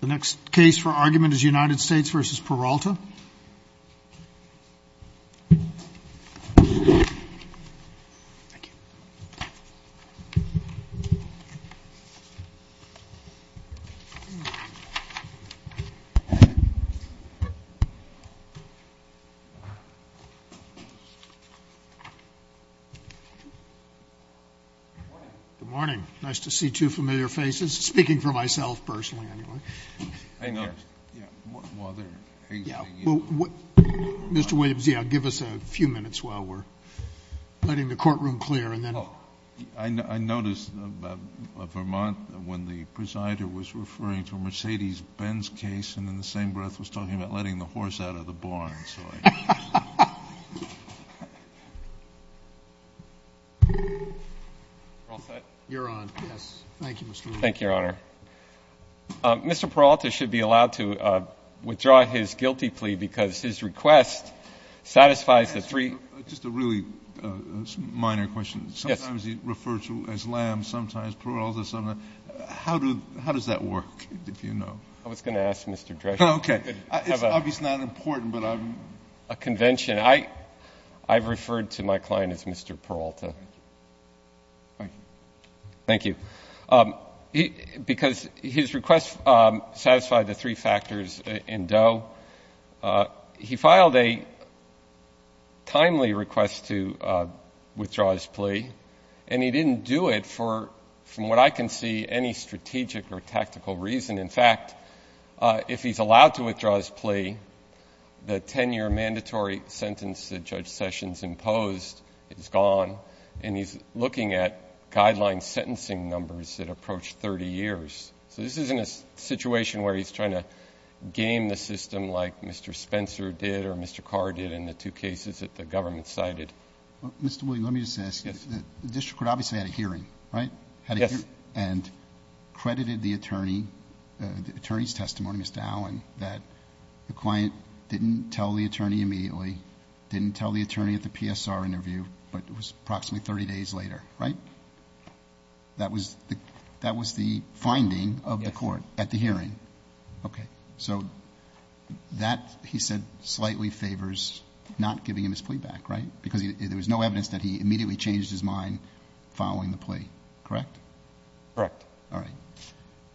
The next case for argument is United States v. Peralta. Good morning. Nice to see two familiar faces. Speaking for myself personally anyway. Mr. Williams, give us a few minutes while we're letting the courtroom clear. I noticed Vermont when the presider was referring to a Mercedes-Benz case and in the same breath was talking about letting the horse out of the barn. You're on. Thank you, Mr. Williams. Thank you, Your Honor. Mr. Peralta should be allowed to withdraw his guilty plea because his request satisfies the three. Just a really minor question. Sometimes he refers to it as lamb, sometimes Peralta. How does that work, if you know? I was going to ask Mr. Drescher. Okay. It's obviously not important, but I'm — A convention. I've referred to my client as Mr. Peralta. Thank you. Thank you. Because his request satisfied the three factors in Doe, he filed a timely request to withdraw his plea, and he didn't do it for, from what I can see, any strategic or tactical reason. In fact, if he's allowed to withdraw his plea, the 10-year mandatory sentence that Judge Sessions imposed is gone, and he's looking at guideline sentencing numbers that approach 30 years. So this isn't a situation where he's trying to game the system like Mr. Spencer did or Mr. Carr did in the two cases that the government cited. Mr. Williams, let me just ask. Yes. The district court obviously had a hearing, right? Yes. And credited the attorney's testimony, Mr. Allen, that the client didn't tell the attorney immediately, didn't tell the attorney at the PSR interview, but it was approximately 30 days later, right? That was the finding of the court at the hearing. Yes. Okay. So that, he said, slightly favors not giving him his plea back, right? Because there was no evidence that he immediately changed his mind following the plea, correct? Correct. All right.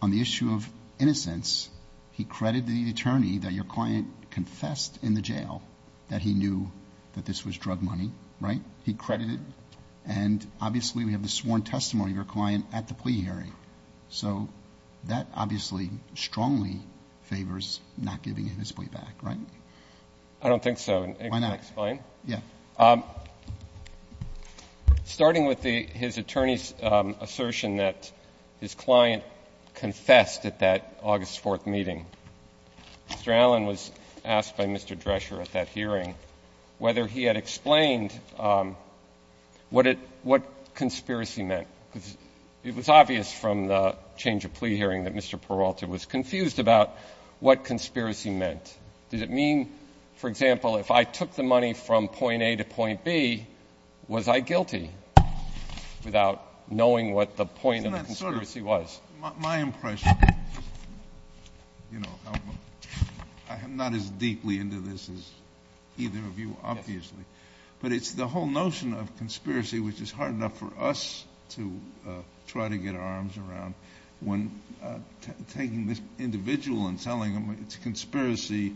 On the issue of innocence, he credited the attorney that your client confessed in the jail that he knew that this was drug money, right? He credited. And obviously we have the sworn testimony of your client at the plea hearing. So that obviously strongly favors not giving him his plea back, right? I don't think so. Why not? And can I explain? Yes. Starting with his attorney's assertion that his client confessed at that August 4th meeting, Mr. Allen was asked by Mr. Drescher at that hearing whether he had explained what conspiracy meant. It was obvious from the change of plea hearing that Mr. Peralta was confused about what conspiracy meant. Did it mean, for example, if I took the money from point A to point B, was I guilty without knowing what the point of the conspiracy was? My impression, you know, I'm not as deeply into this as either of you, obviously. But it's the whole notion of conspiracy, which is hard enough for us to try to get our arms around, when taking this individual and telling them it's a conspiracy,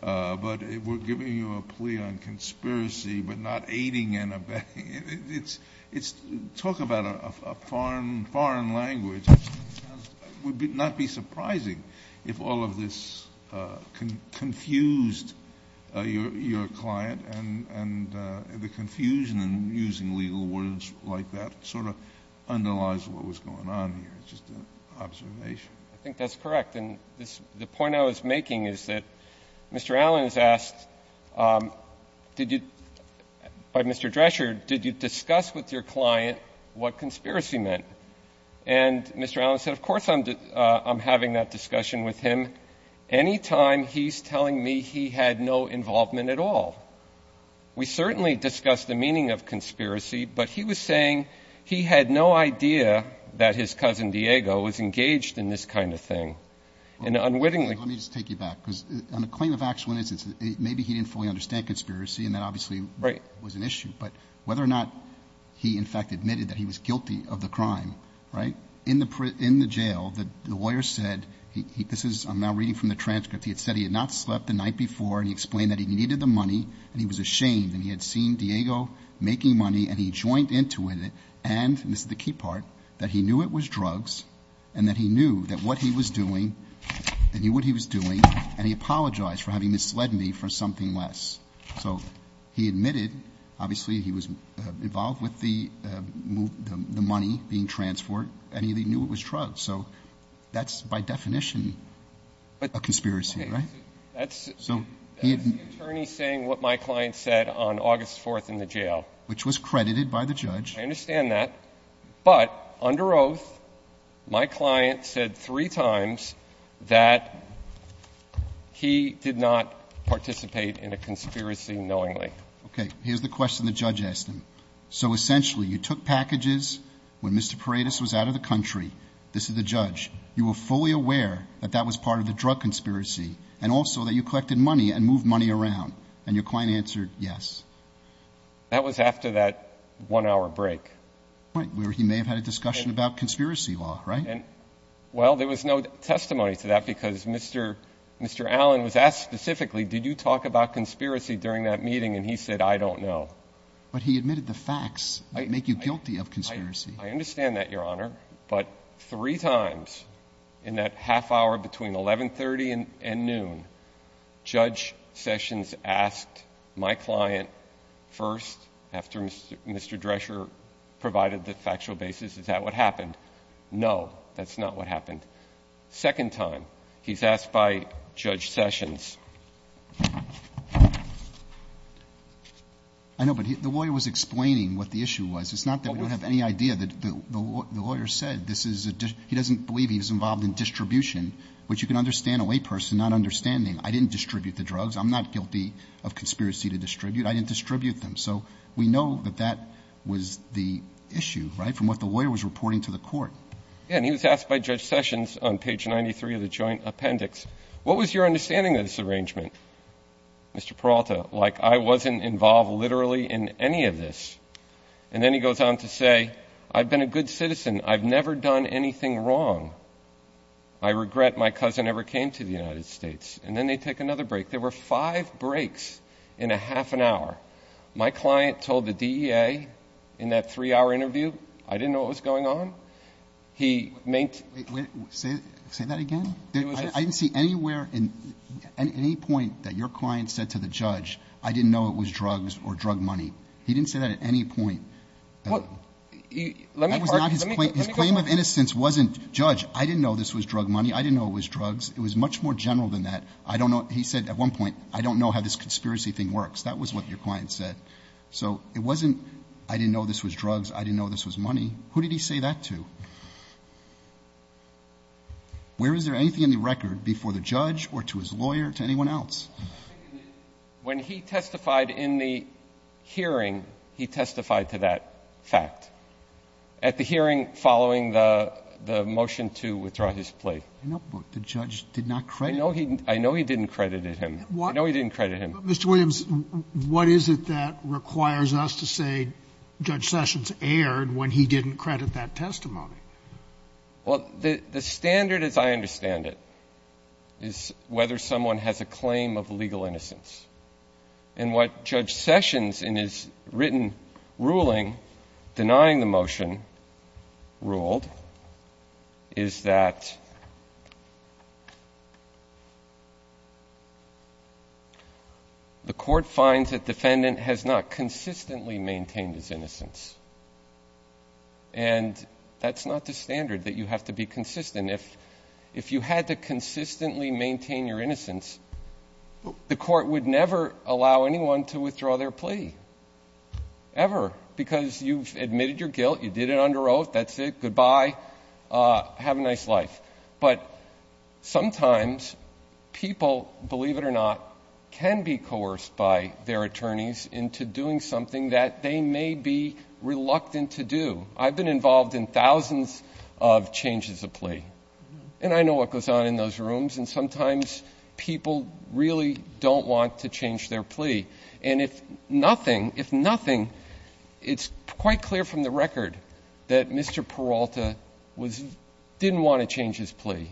but we're giving you a plea on conspiracy but not aiding and abetting. Talk about a foreign language. It would not be surprising if all of this confused your client, and the confusion in using legal words like that sort of underlies what was going on here. It's just an observation. I think that's correct. And the point I was making is that Mr. Allen is asked, did you, by Mr. Drescher, did you discuss with your client what conspiracy meant? And Mr. Allen said, of course I'm having that discussion with him. I don't think any time he's telling me he had no involvement at all. We certainly discussed the meaning of conspiracy, but he was saying he had no idea that his cousin Diego was engaged in this kind of thing. And unwittingly ---- Let me just take you back. Because on the claim of actual innocence, maybe he didn't fully understand conspiracy, and that obviously was an issue. But whether or not he in fact admitted that he was guilty of the crime, right, in the jail, the lawyer said he ---- this is ---- I'm now reading from the transcript. He had said he had not slept the night before, and he explained that he needed the money, and he was ashamed, and he had seen Diego making money, and he joined into it, and ---- and this is the key part ---- that he knew it was drugs, and that he knew that what he was doing, and he knew what he was doing, and he apologized for having misled me for something less. So he admitted, obviously he was involved with the money being transferred, and he knew it was drugs. So that's by definition a conspiracy, right? So he didn't ---- That's the attorney saying what my client said on August 4th in the jail. Which was credited by the judge. I understand that. But under oath, my client said three times that he did not participate in a conspiracy knowingly. Here's the question the judge asked him. So essentially, you took packages when Mr. Paredes was out of the country. This is the judge. You were fully aware that that was part of the drug conspiracy, and also that you collected money and moved money around, and your client answered yes. That was after that one-hour break. Right. Where he may have had a discussion about conspiracy law, right? Well, there was no testimony to that because Mr. Allen was asked specifically, did you talk about conspiracy during that meeting, and he said, I don't know. But he admitted the facts that make you guilty of conspiracy. I understand that, Your Honor. But three times in that half-hour between 1130 and noon, Judge Sessions asked my client first, after Mr. Drescher provided the factual basis, is that what happened? No, that's not what happened. Second time, he's asked by Judge Sessions. I know, but the lawyer was explaining what the issue was. It's not that we don't have any idea. The lawyer said this is a ‑‑ he doesn't believe he was involved in distribution, which you can understand a layperson not understanding. I didn't distribute the drugs. I'm not guilty of conspiracy to distribute. I didn't distribute them. So we know that that was the issue, right, from what the lawyer was reporting to the court. Yeah, and he was asked by Judge Sessions on page 93 of the joint appendix, what was your understanding of this arrangement, Mr. Peralta? Like, I wasn't involved literally in any of this. And then he goes on to say, I've been a good citizen. I've never done anything wrong. I regret my cousin ever came to the United States. And then they take another break. There were five breaks in a half an hour. My client told the DEA in that three‑hour interview, I didn't know what was going on. Say that again. I didn't see anywhere at any point that your client said to the judge, I didn't know it was drugs or drug money. He didn't say that at any point. His claim of innocence wasn't, Judge, I didn't know this was drug money. I didn't know it was drugs. It was much more general than that. He said at one point, I don't know how this conspiracy thing works. That was what your client said. So it wasn't, I didn't know this was drugs. I didn't know this was money. Who did he say that to? Where is there anything in the record before the judge or to his lawyer, to anyone else? When he testified in the hearing, he testified to that fact. At the hearing following the motion to withdraw his plea. I know, but the judge did not credit him. I know he didn't credit him. I know he didn't credit him. Mr. Williams, what is it that requires us to say Judge Sessions erred when he didn't credit that testimony? Well, the standard as I understand it is whether someone has a claim of legal innocence. And what Judge Sessions in his written ruling denying the motion ruled is that the court finds that the defendant has not consistently maintained his innocence. And that's not the standard, that you have to be consistent. If you had to consistently maintain your innocence, the court would never allow anyone to withdraw their plea. Ever. Because you've admitted your guilt. You did it under oath. That's it. Goodbye. Have a nice life. But sometimes people, believe it or not, can be coerced by their attorneys into doing something that they may be reluctant to do. I've been involved in thousands of changes of plea. And I know what goes on in those rooms. And sometimes people really don't want to change their plea. And if nothing, it's quite clear from the record that Mr. Peralta didn't want to change his plea.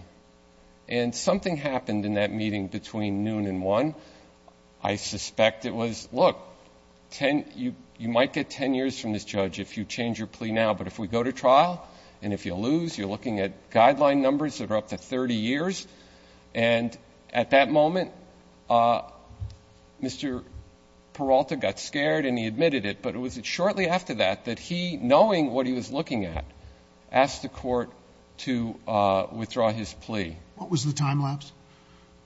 And something happened in that meeting between noon and 1. I suspect it was, look, you might get 10 years from this judge if you change your plea now. But if we go to trial, and if you lose, you're looking at guideline numbers that are up to 30 years. And at that moment, Mr. Peralta got scared and he admitted it. But it was shortly after that that he, knowing what he was looking at, asked the court to withdraw his plea. What was the time lapse?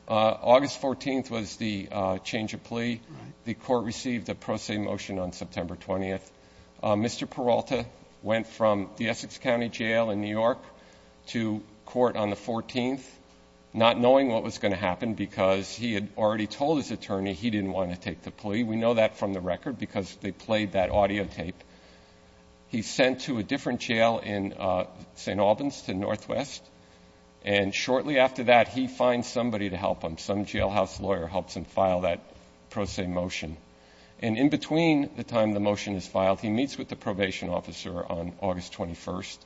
August 14th was the change of plea. The court received a pro se motion on September 20th. Mr. Peralta went from the Essex County Jail in New York to court on the 14th, not knowing what was going to happen because he had already told his attorney he didn't want to take the plea. We know that from the record because they played that audio tape. He's sent to a different jail in St. Albans, to Northwest. And shortly after that, he finds somebody to help him. Some jailhouse lawyer helps him file that pro se motion. And in between the time the motion is filed, he meets with the probation officer on August 21st.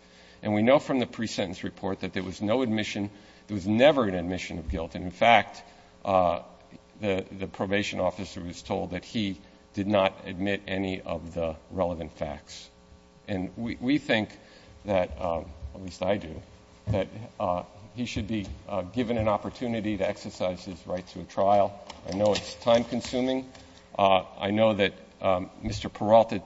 And we know from the pre-sentence report that there was no admission, there was never an admission of guilt. And, in fact, the probation officer was told that he did not admit any of the relevant facts. And we think that, at least I do, that he should be given an opportunity to exercise his right to a trial. I know it's time consuming. I know that Mr. Peralta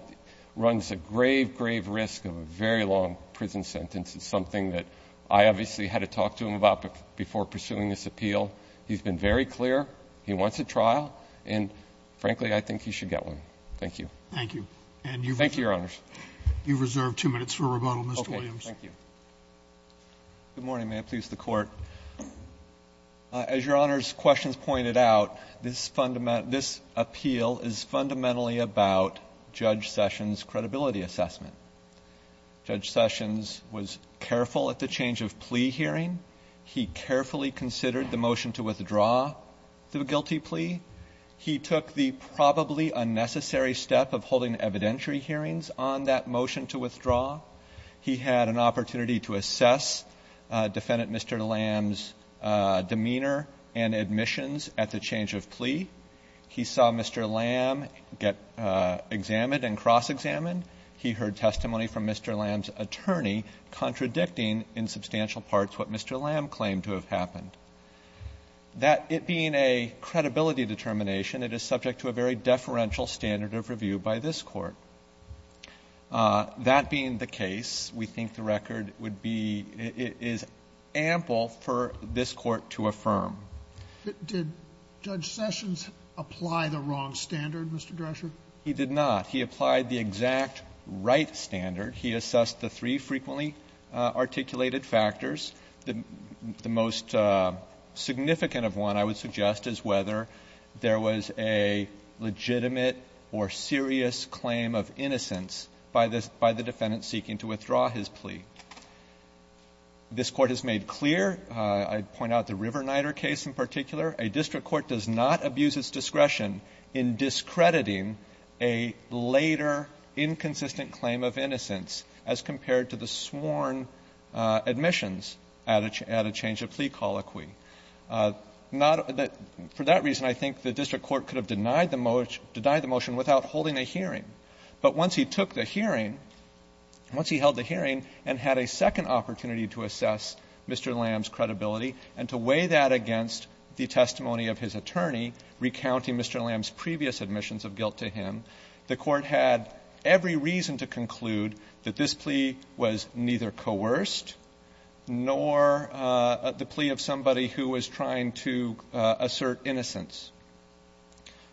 runs a grave, grave risk of a very long prison sentence. It's something that I obviously had to talk to him about before pursuing this appeal. He's been very clear he wants a trial. And, frankly, I think he should get one. Thank you. Thank you. Thank you, Your Honors. You've reserved two minutes for rebuttal, Mr. Williams. Okay. Thank you. Good morning. May it please the Court. As Your Honors' questions pointed out, this appeal is fundamentally about Judge Sessions' credibility assessment. Judge Sessions was careful at the change of plea hearing. He carefully considered the motion to withdraw the guilty plea. He took the probably unnecessary step of holding evidentiary hearings on that motion to withdraw. He had an opportunity to assess Defendant Mr. Lamb's demeanor and admissions at the change of plea. He saw Mr. Lamb get examined and cross-examined. He heard testimony from Mr. Lamb's attorney contradicting in substantial parts what Mr. Lamb claimed to have happened. That, it being a credibility determination, it is subject to a very deferential standard of review by this Court. That being the case, we think the record would be ample for this Court to affirm. Did Judge Sessions apply the wrong standard, Mr. Drescher? He did not. He applied the exact right standard. He assessed the three frequently articulated factors. The most significant of one, I would suggest, is whether there was a legitimate or serious claim of innocence by the defendant seeking to withdraw his plea. This Court has made clear, I'd point out the River-Nyder case in particular, a district court does not abuse its discretion in discrediting a later inconsistent claim of innocence as compared to the sworn admissions at a change of plea colloquy. For that reason, I think the district court could have denied the motion without holding a hearing. But once he took the hearing, once he held the hearing and had a second opportunity to assess Mr. Lamb's credibility and to weigh that against the testimony of his attorney recounting Mr. Lamb's previous admissions of guilt to him, the Court had every reason to conclude that this plea was neither coerced nor the plea of somebody who was trying to assert innocence.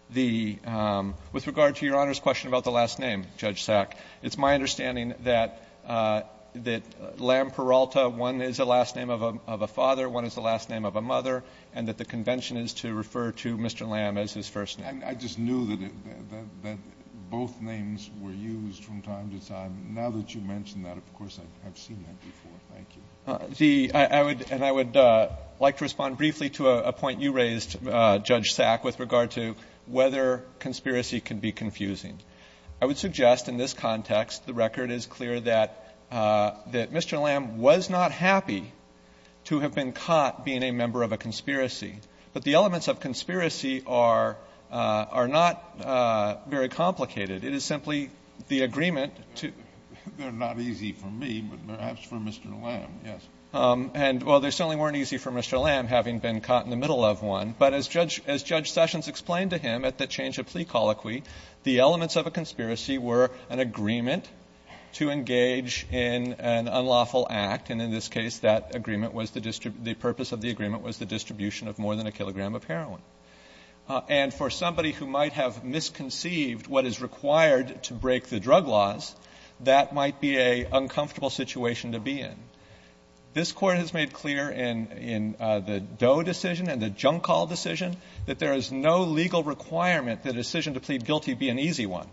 The — with regard to Your Honor's question about the last name, Judge Sack, it's my understanding that Lamb-Peralta, one is the last name of a father, one is the last name of a mother, and that the convention is to refer to Mr. Lamb as his first name. Kennedy. I just knew that both names were used from time to time. Now that you mention that, of course, I've seen that before. Thank you. The — and I would like to respond briefly to a point you raised, Judge Sack, with regard to whether conspiracy can be confusing. I would suggest in this context the record is clear that Mr. Lamb was not happy to have been caught being a member of a conspiracy. But the elements of conspiracy are — are not very complicated. It is simply the agreement to — They're not easy for me, but perhaps for Mr. Lamb, yes. And while they certainly weren't easy for Mr. Lamb, having been caught in the middle of one, but as Judge — as Judge Sessions explained to him at the change of plea colloquy, the elements of a conspiracy were an agreement to engage in an unlawful act. And in this case, that agreement was the — the purpose of the agreement was the distribution of more than a kilogram of heroin. And for somebody who might have misconceived what is required to break the drug laws, that might be an uncomfortable situation to be in. This Court has made clear in — in the Doe decision and the Junkall decision that there is no legal requirement that a decision to plead guilty be an easy one.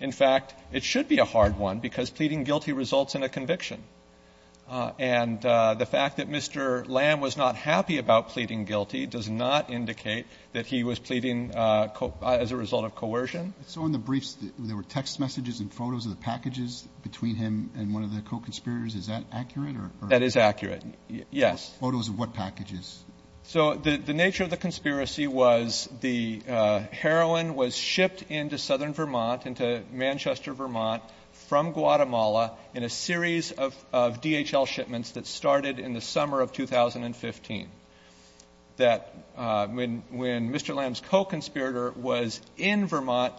And the fact that Mr. Lamb was not happy about pleading guilty does not indicate that he was pleading as a result of coercion. So in the briefs, there were text messages and photos of the packages between him and one of the co-conspirators. Is that accurate or — That is accurate, yes. Photos of what packages? So the — the nature of the conspiracy was the heroin was shipped into southern Vermont, into Manchester, Vermont, from Guatemala, in a series of DHL shipments that started in the summer of 2015. That when — when Mr. Lamb's co-conspirator was in Vermont,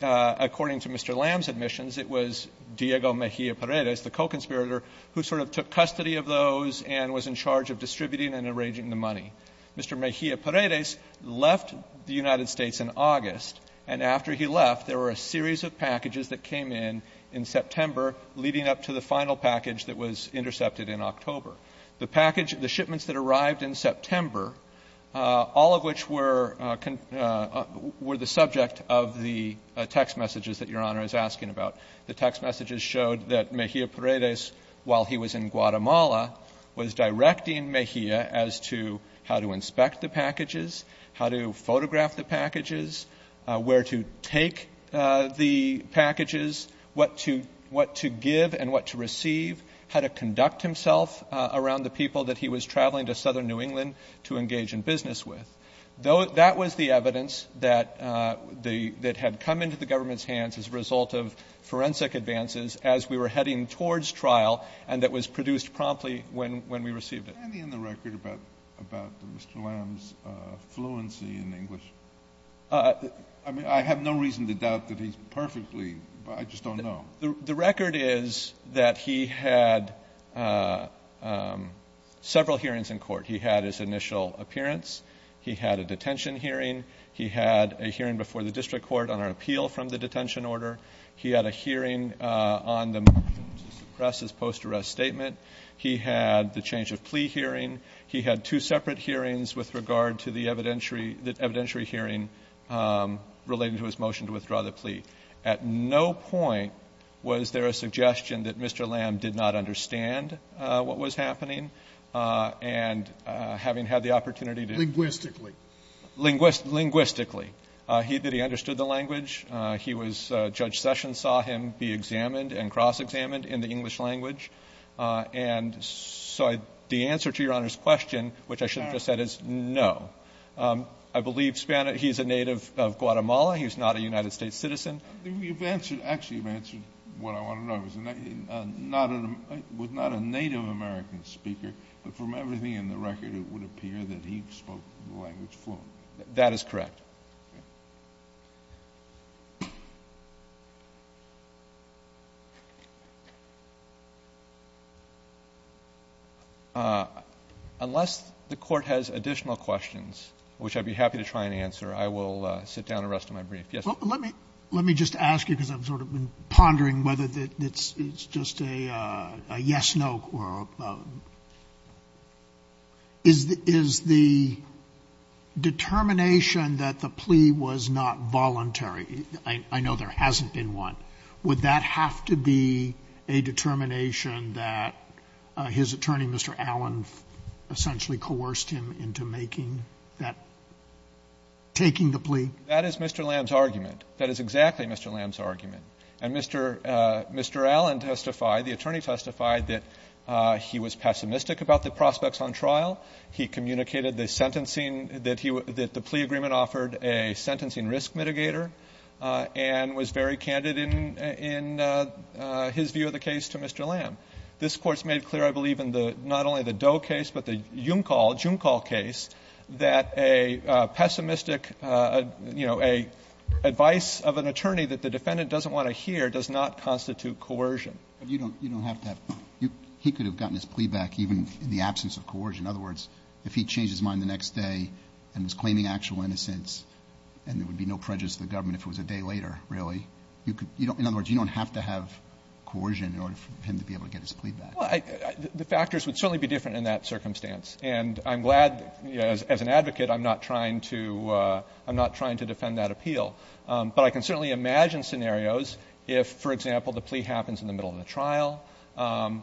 according to Mr. Lamb's admissions, it was Diego Mejia-Paredes, the co-conspirator, who sort of took custody of those and was in charge of distributing and arranging the money. Mr. Mejia-Paredes left the United States in August, and after he left, there were a series of packages that came in in September leading up to the final package that was intercepted in October. The package — the shipments that arrived in September, all of which were — were the subject of the text messages that Your Honor is asking about. The text messages showed that Mejia-Paredes, while he was in Guatemala, was directing Mejia as to how to inspect the packages, how to photograph the packages, where to take the packages, what to — what to give and what to receive, how to conduct himself around the people that he was traveling to southern New England to engage in business with. That was the evidence that the — that had come into the government's hands as a result of forensic advances as we were heading towards trial and that was produced promptly when we received it. Is there anything in the record about Mr. Lamb's fluency in English? I mean, I have no reason to doubt that he's perfectly — I just don't know. The record is that he had several hearings in court. He had his initial appearance. He had a detention hearing. He had a hearing before the district court on an appeal from the detention order. He had a hearing on the press's post-arrest statement. He had the change of plea hearing. He had two separate hearings with regard to the evidentiary — the evidentiary hearing relating to his motion to withdraw the plea. At no point was there a suggestion that Mr. Lamb did not understand what was happening and having had the opportunity to — Linguistically. Linguistically. He — that he understood the language. He was — Judge Sessions saw him be examined and cross-examined in the English language. And so the answer to Your Honor's question, which I shouldn't have said, is no. I believe he's a native of Guatemala. He's not a United States citizen. You've answered — actually, you've answered what I want to know. He was not a Native American speaker, but from everything in the record, it would appear that he spoke the language fluently. That is correct. Okay. Unless the Court has additional questions, which I'd be happy to try and answer, I will sit down the rest of my brief. Yes, sir. Scalia. Well, let me — let me just ask you, because I've sort of been pondering whether it's just a yes-no or a — is the determination that the plea was not voluntary? I know there hasn't been one. Would that have to be a determination that his attorney, Mr. Allen, essentially coerced him into making that — taking the plea? That is Mr. Lamb's argument. That is exactly Mr. Lamb's argument. And Mr. — Mr. Allen testified, the attorney testified, that he was pessimistic about the prospects on trial. He communicated the sentencing that he — that the plea agreement offered a sentencing risk mitigator and was very candid in — in his view of the case to Mr. Lamb. This Court's made clear, I believe, in the — not only the Doe case, but the Junkol case, that a pessimistic, you know, advice of an attorney that the defendant doesn't want to hear does not constitute coercion. But you don't — you don't have to have — he could have gotten his plea back even in the absence of coercion. In other words, if he changed his mind the next day and was claiming actual innocence and there would be no prejudice to the government if it was a day later, really, you could — you don't — in other words, you don't have to have coercion in order for him to be able to get his plea back. Well, I — the factors would certainly be different in that circumstance. And I'm glad, you know, as an advocate, I'm not trying to — I'm not trying to defend that appeal. But I can certainly imagine scenarios if, for example, the plea happens in the middle of the trial,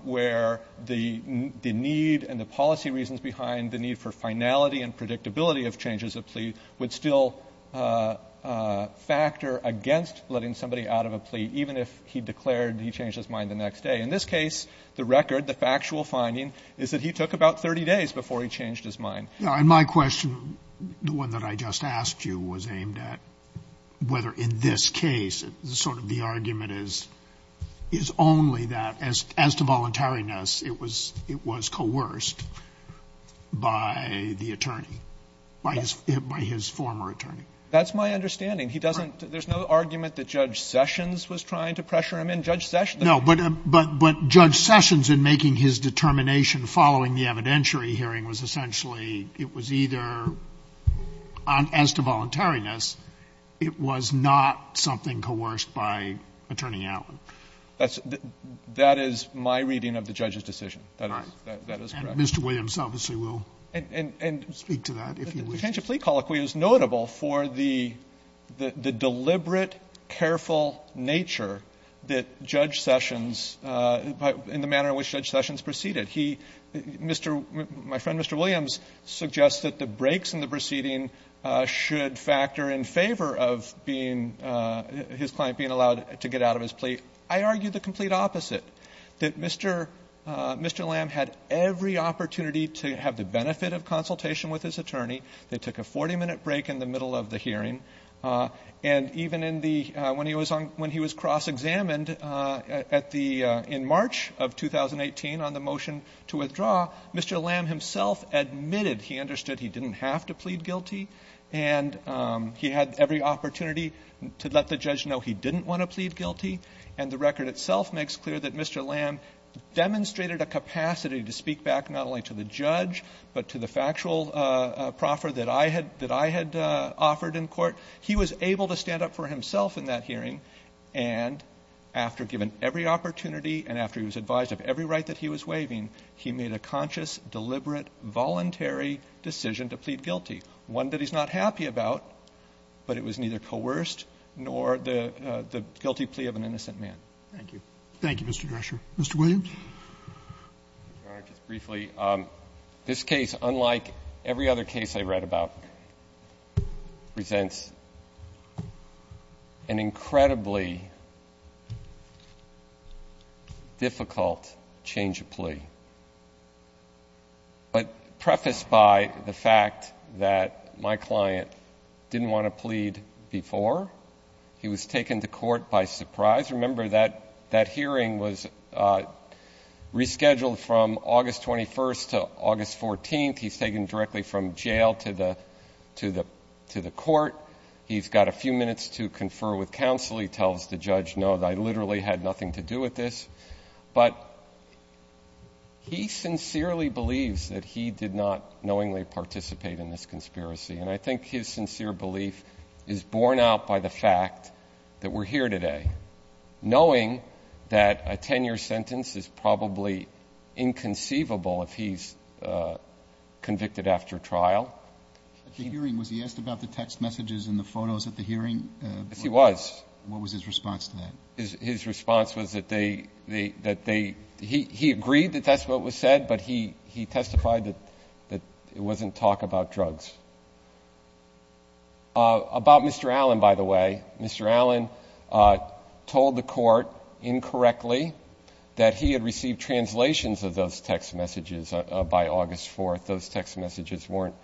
where the — the need and the policy reasons behind the need for finality and predictability of changes of plea would still factor against letting somebody out of a plea, even if he declared he changed his mind the next day. In this case, the record, the factual finding, is that he took about 30 days before he changed his mind. And my question, the one that I just asked you, was aimed at whether in this case sort of the argument is — is only that as to voluntariness, it was — it was coerced by the attorney, by his — by his former attorney. That's my understanding. He doesn't — there's no argument that Judge Sessions was trying to pressure him in. Judge Sessions — No. But — but — but Judge Sessions in making his determination following the evidentiary hearing was essentially it was either, as to voluntariness, it was not something coerced by Attorney Allen. That's — that is my reading of the judge's decision. That is — that is correct. Mr. Williams obviously will speak to that, if he wishes. And the change of plea colloquy is notable for the — the deliberate, careful nature that Judge Sessions — in the manner in which Judge Sessions proceeded. He — Mr. — my friend, Mr. Williams, suggests that the breaks in the proceeding should factor in favor of being — his client being allowed to get out of his plea. I argue the complete opposite, that Mr. — Mr. Lamb had every opportunity to have the benefit of consultation with his attorney. They took a 40-minute break in the middle of the hearing. And even in the — when he was on — when he was cross-examined at the — in March of 2018 on the motion to withdraw, Mr. Lamb himself admitted he understood he didn't have to plead guilty, and he had every opportunity to let the judge know he didn't want to plead guilty. And the record itself makes clear that Mr. Lamb demonstrated a capacity to speak back not only to the judge, but to the factual proffer that I had — that I had offered in court. He was able to stand up for himself in that hearing. And after given every opportunity, and after he was advised of every right that he was waiving, he made a conscious, deliberate, voluntary decision to plead guilty, one that he's not happy about, but it was neither coerced nor the guilty plea of an innocent man. Thank you. Thank you, Mr. Drescher. Mr. Williams. All right. Just briefly, this case, unlike every other case I read about, presents an incredibly difficult change of plea, but prefaced by the fact that my client didn't want to plead before. He was taken to court by surprise. Remember, that hearing was rescheduled from August 21st to August 14th. He's taken directly from jail to the court. He's got a few minutes to confer with counsel. He actually tells the judge, no, I literally had nothing to do with this. But he sincerely believes that he did not knowingly participate in this conspiracy. And I think his sincere belief is borne out by the fact that we're here today, knowing that a 10-year sentence is probably inconceivable if he's convicted after trial. At the hearing, was he asked about the text messages and the photos at the hearing? Yes, he was. What was his response to that? His response was that they, that they, he agreed that that's what was said, but he testified that it wasn't talk about drugs. About Mr. Allen, by the way, Mr. Allen told the court incorrectly that he had received translations of those text messages by August 4th. Those text messages weren't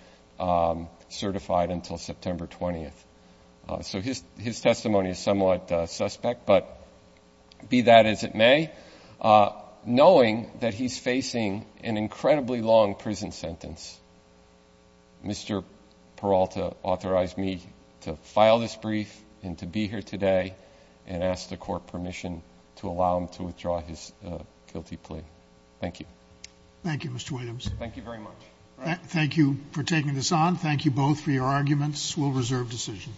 certified until September 20th. So his testimony is somewhat suspect, but be that as it may, knowing that he's facing an incredibly long prison sentence, Mr. Peralta authorized me to file this brief and to be here today and ask the court permission to allow him to withdraw his guilty plea. Thank you. Thank you, Mr. Williams. Thank you very much. Thank you for taking this on. Thank you both for your arguments. We'll reserve decision.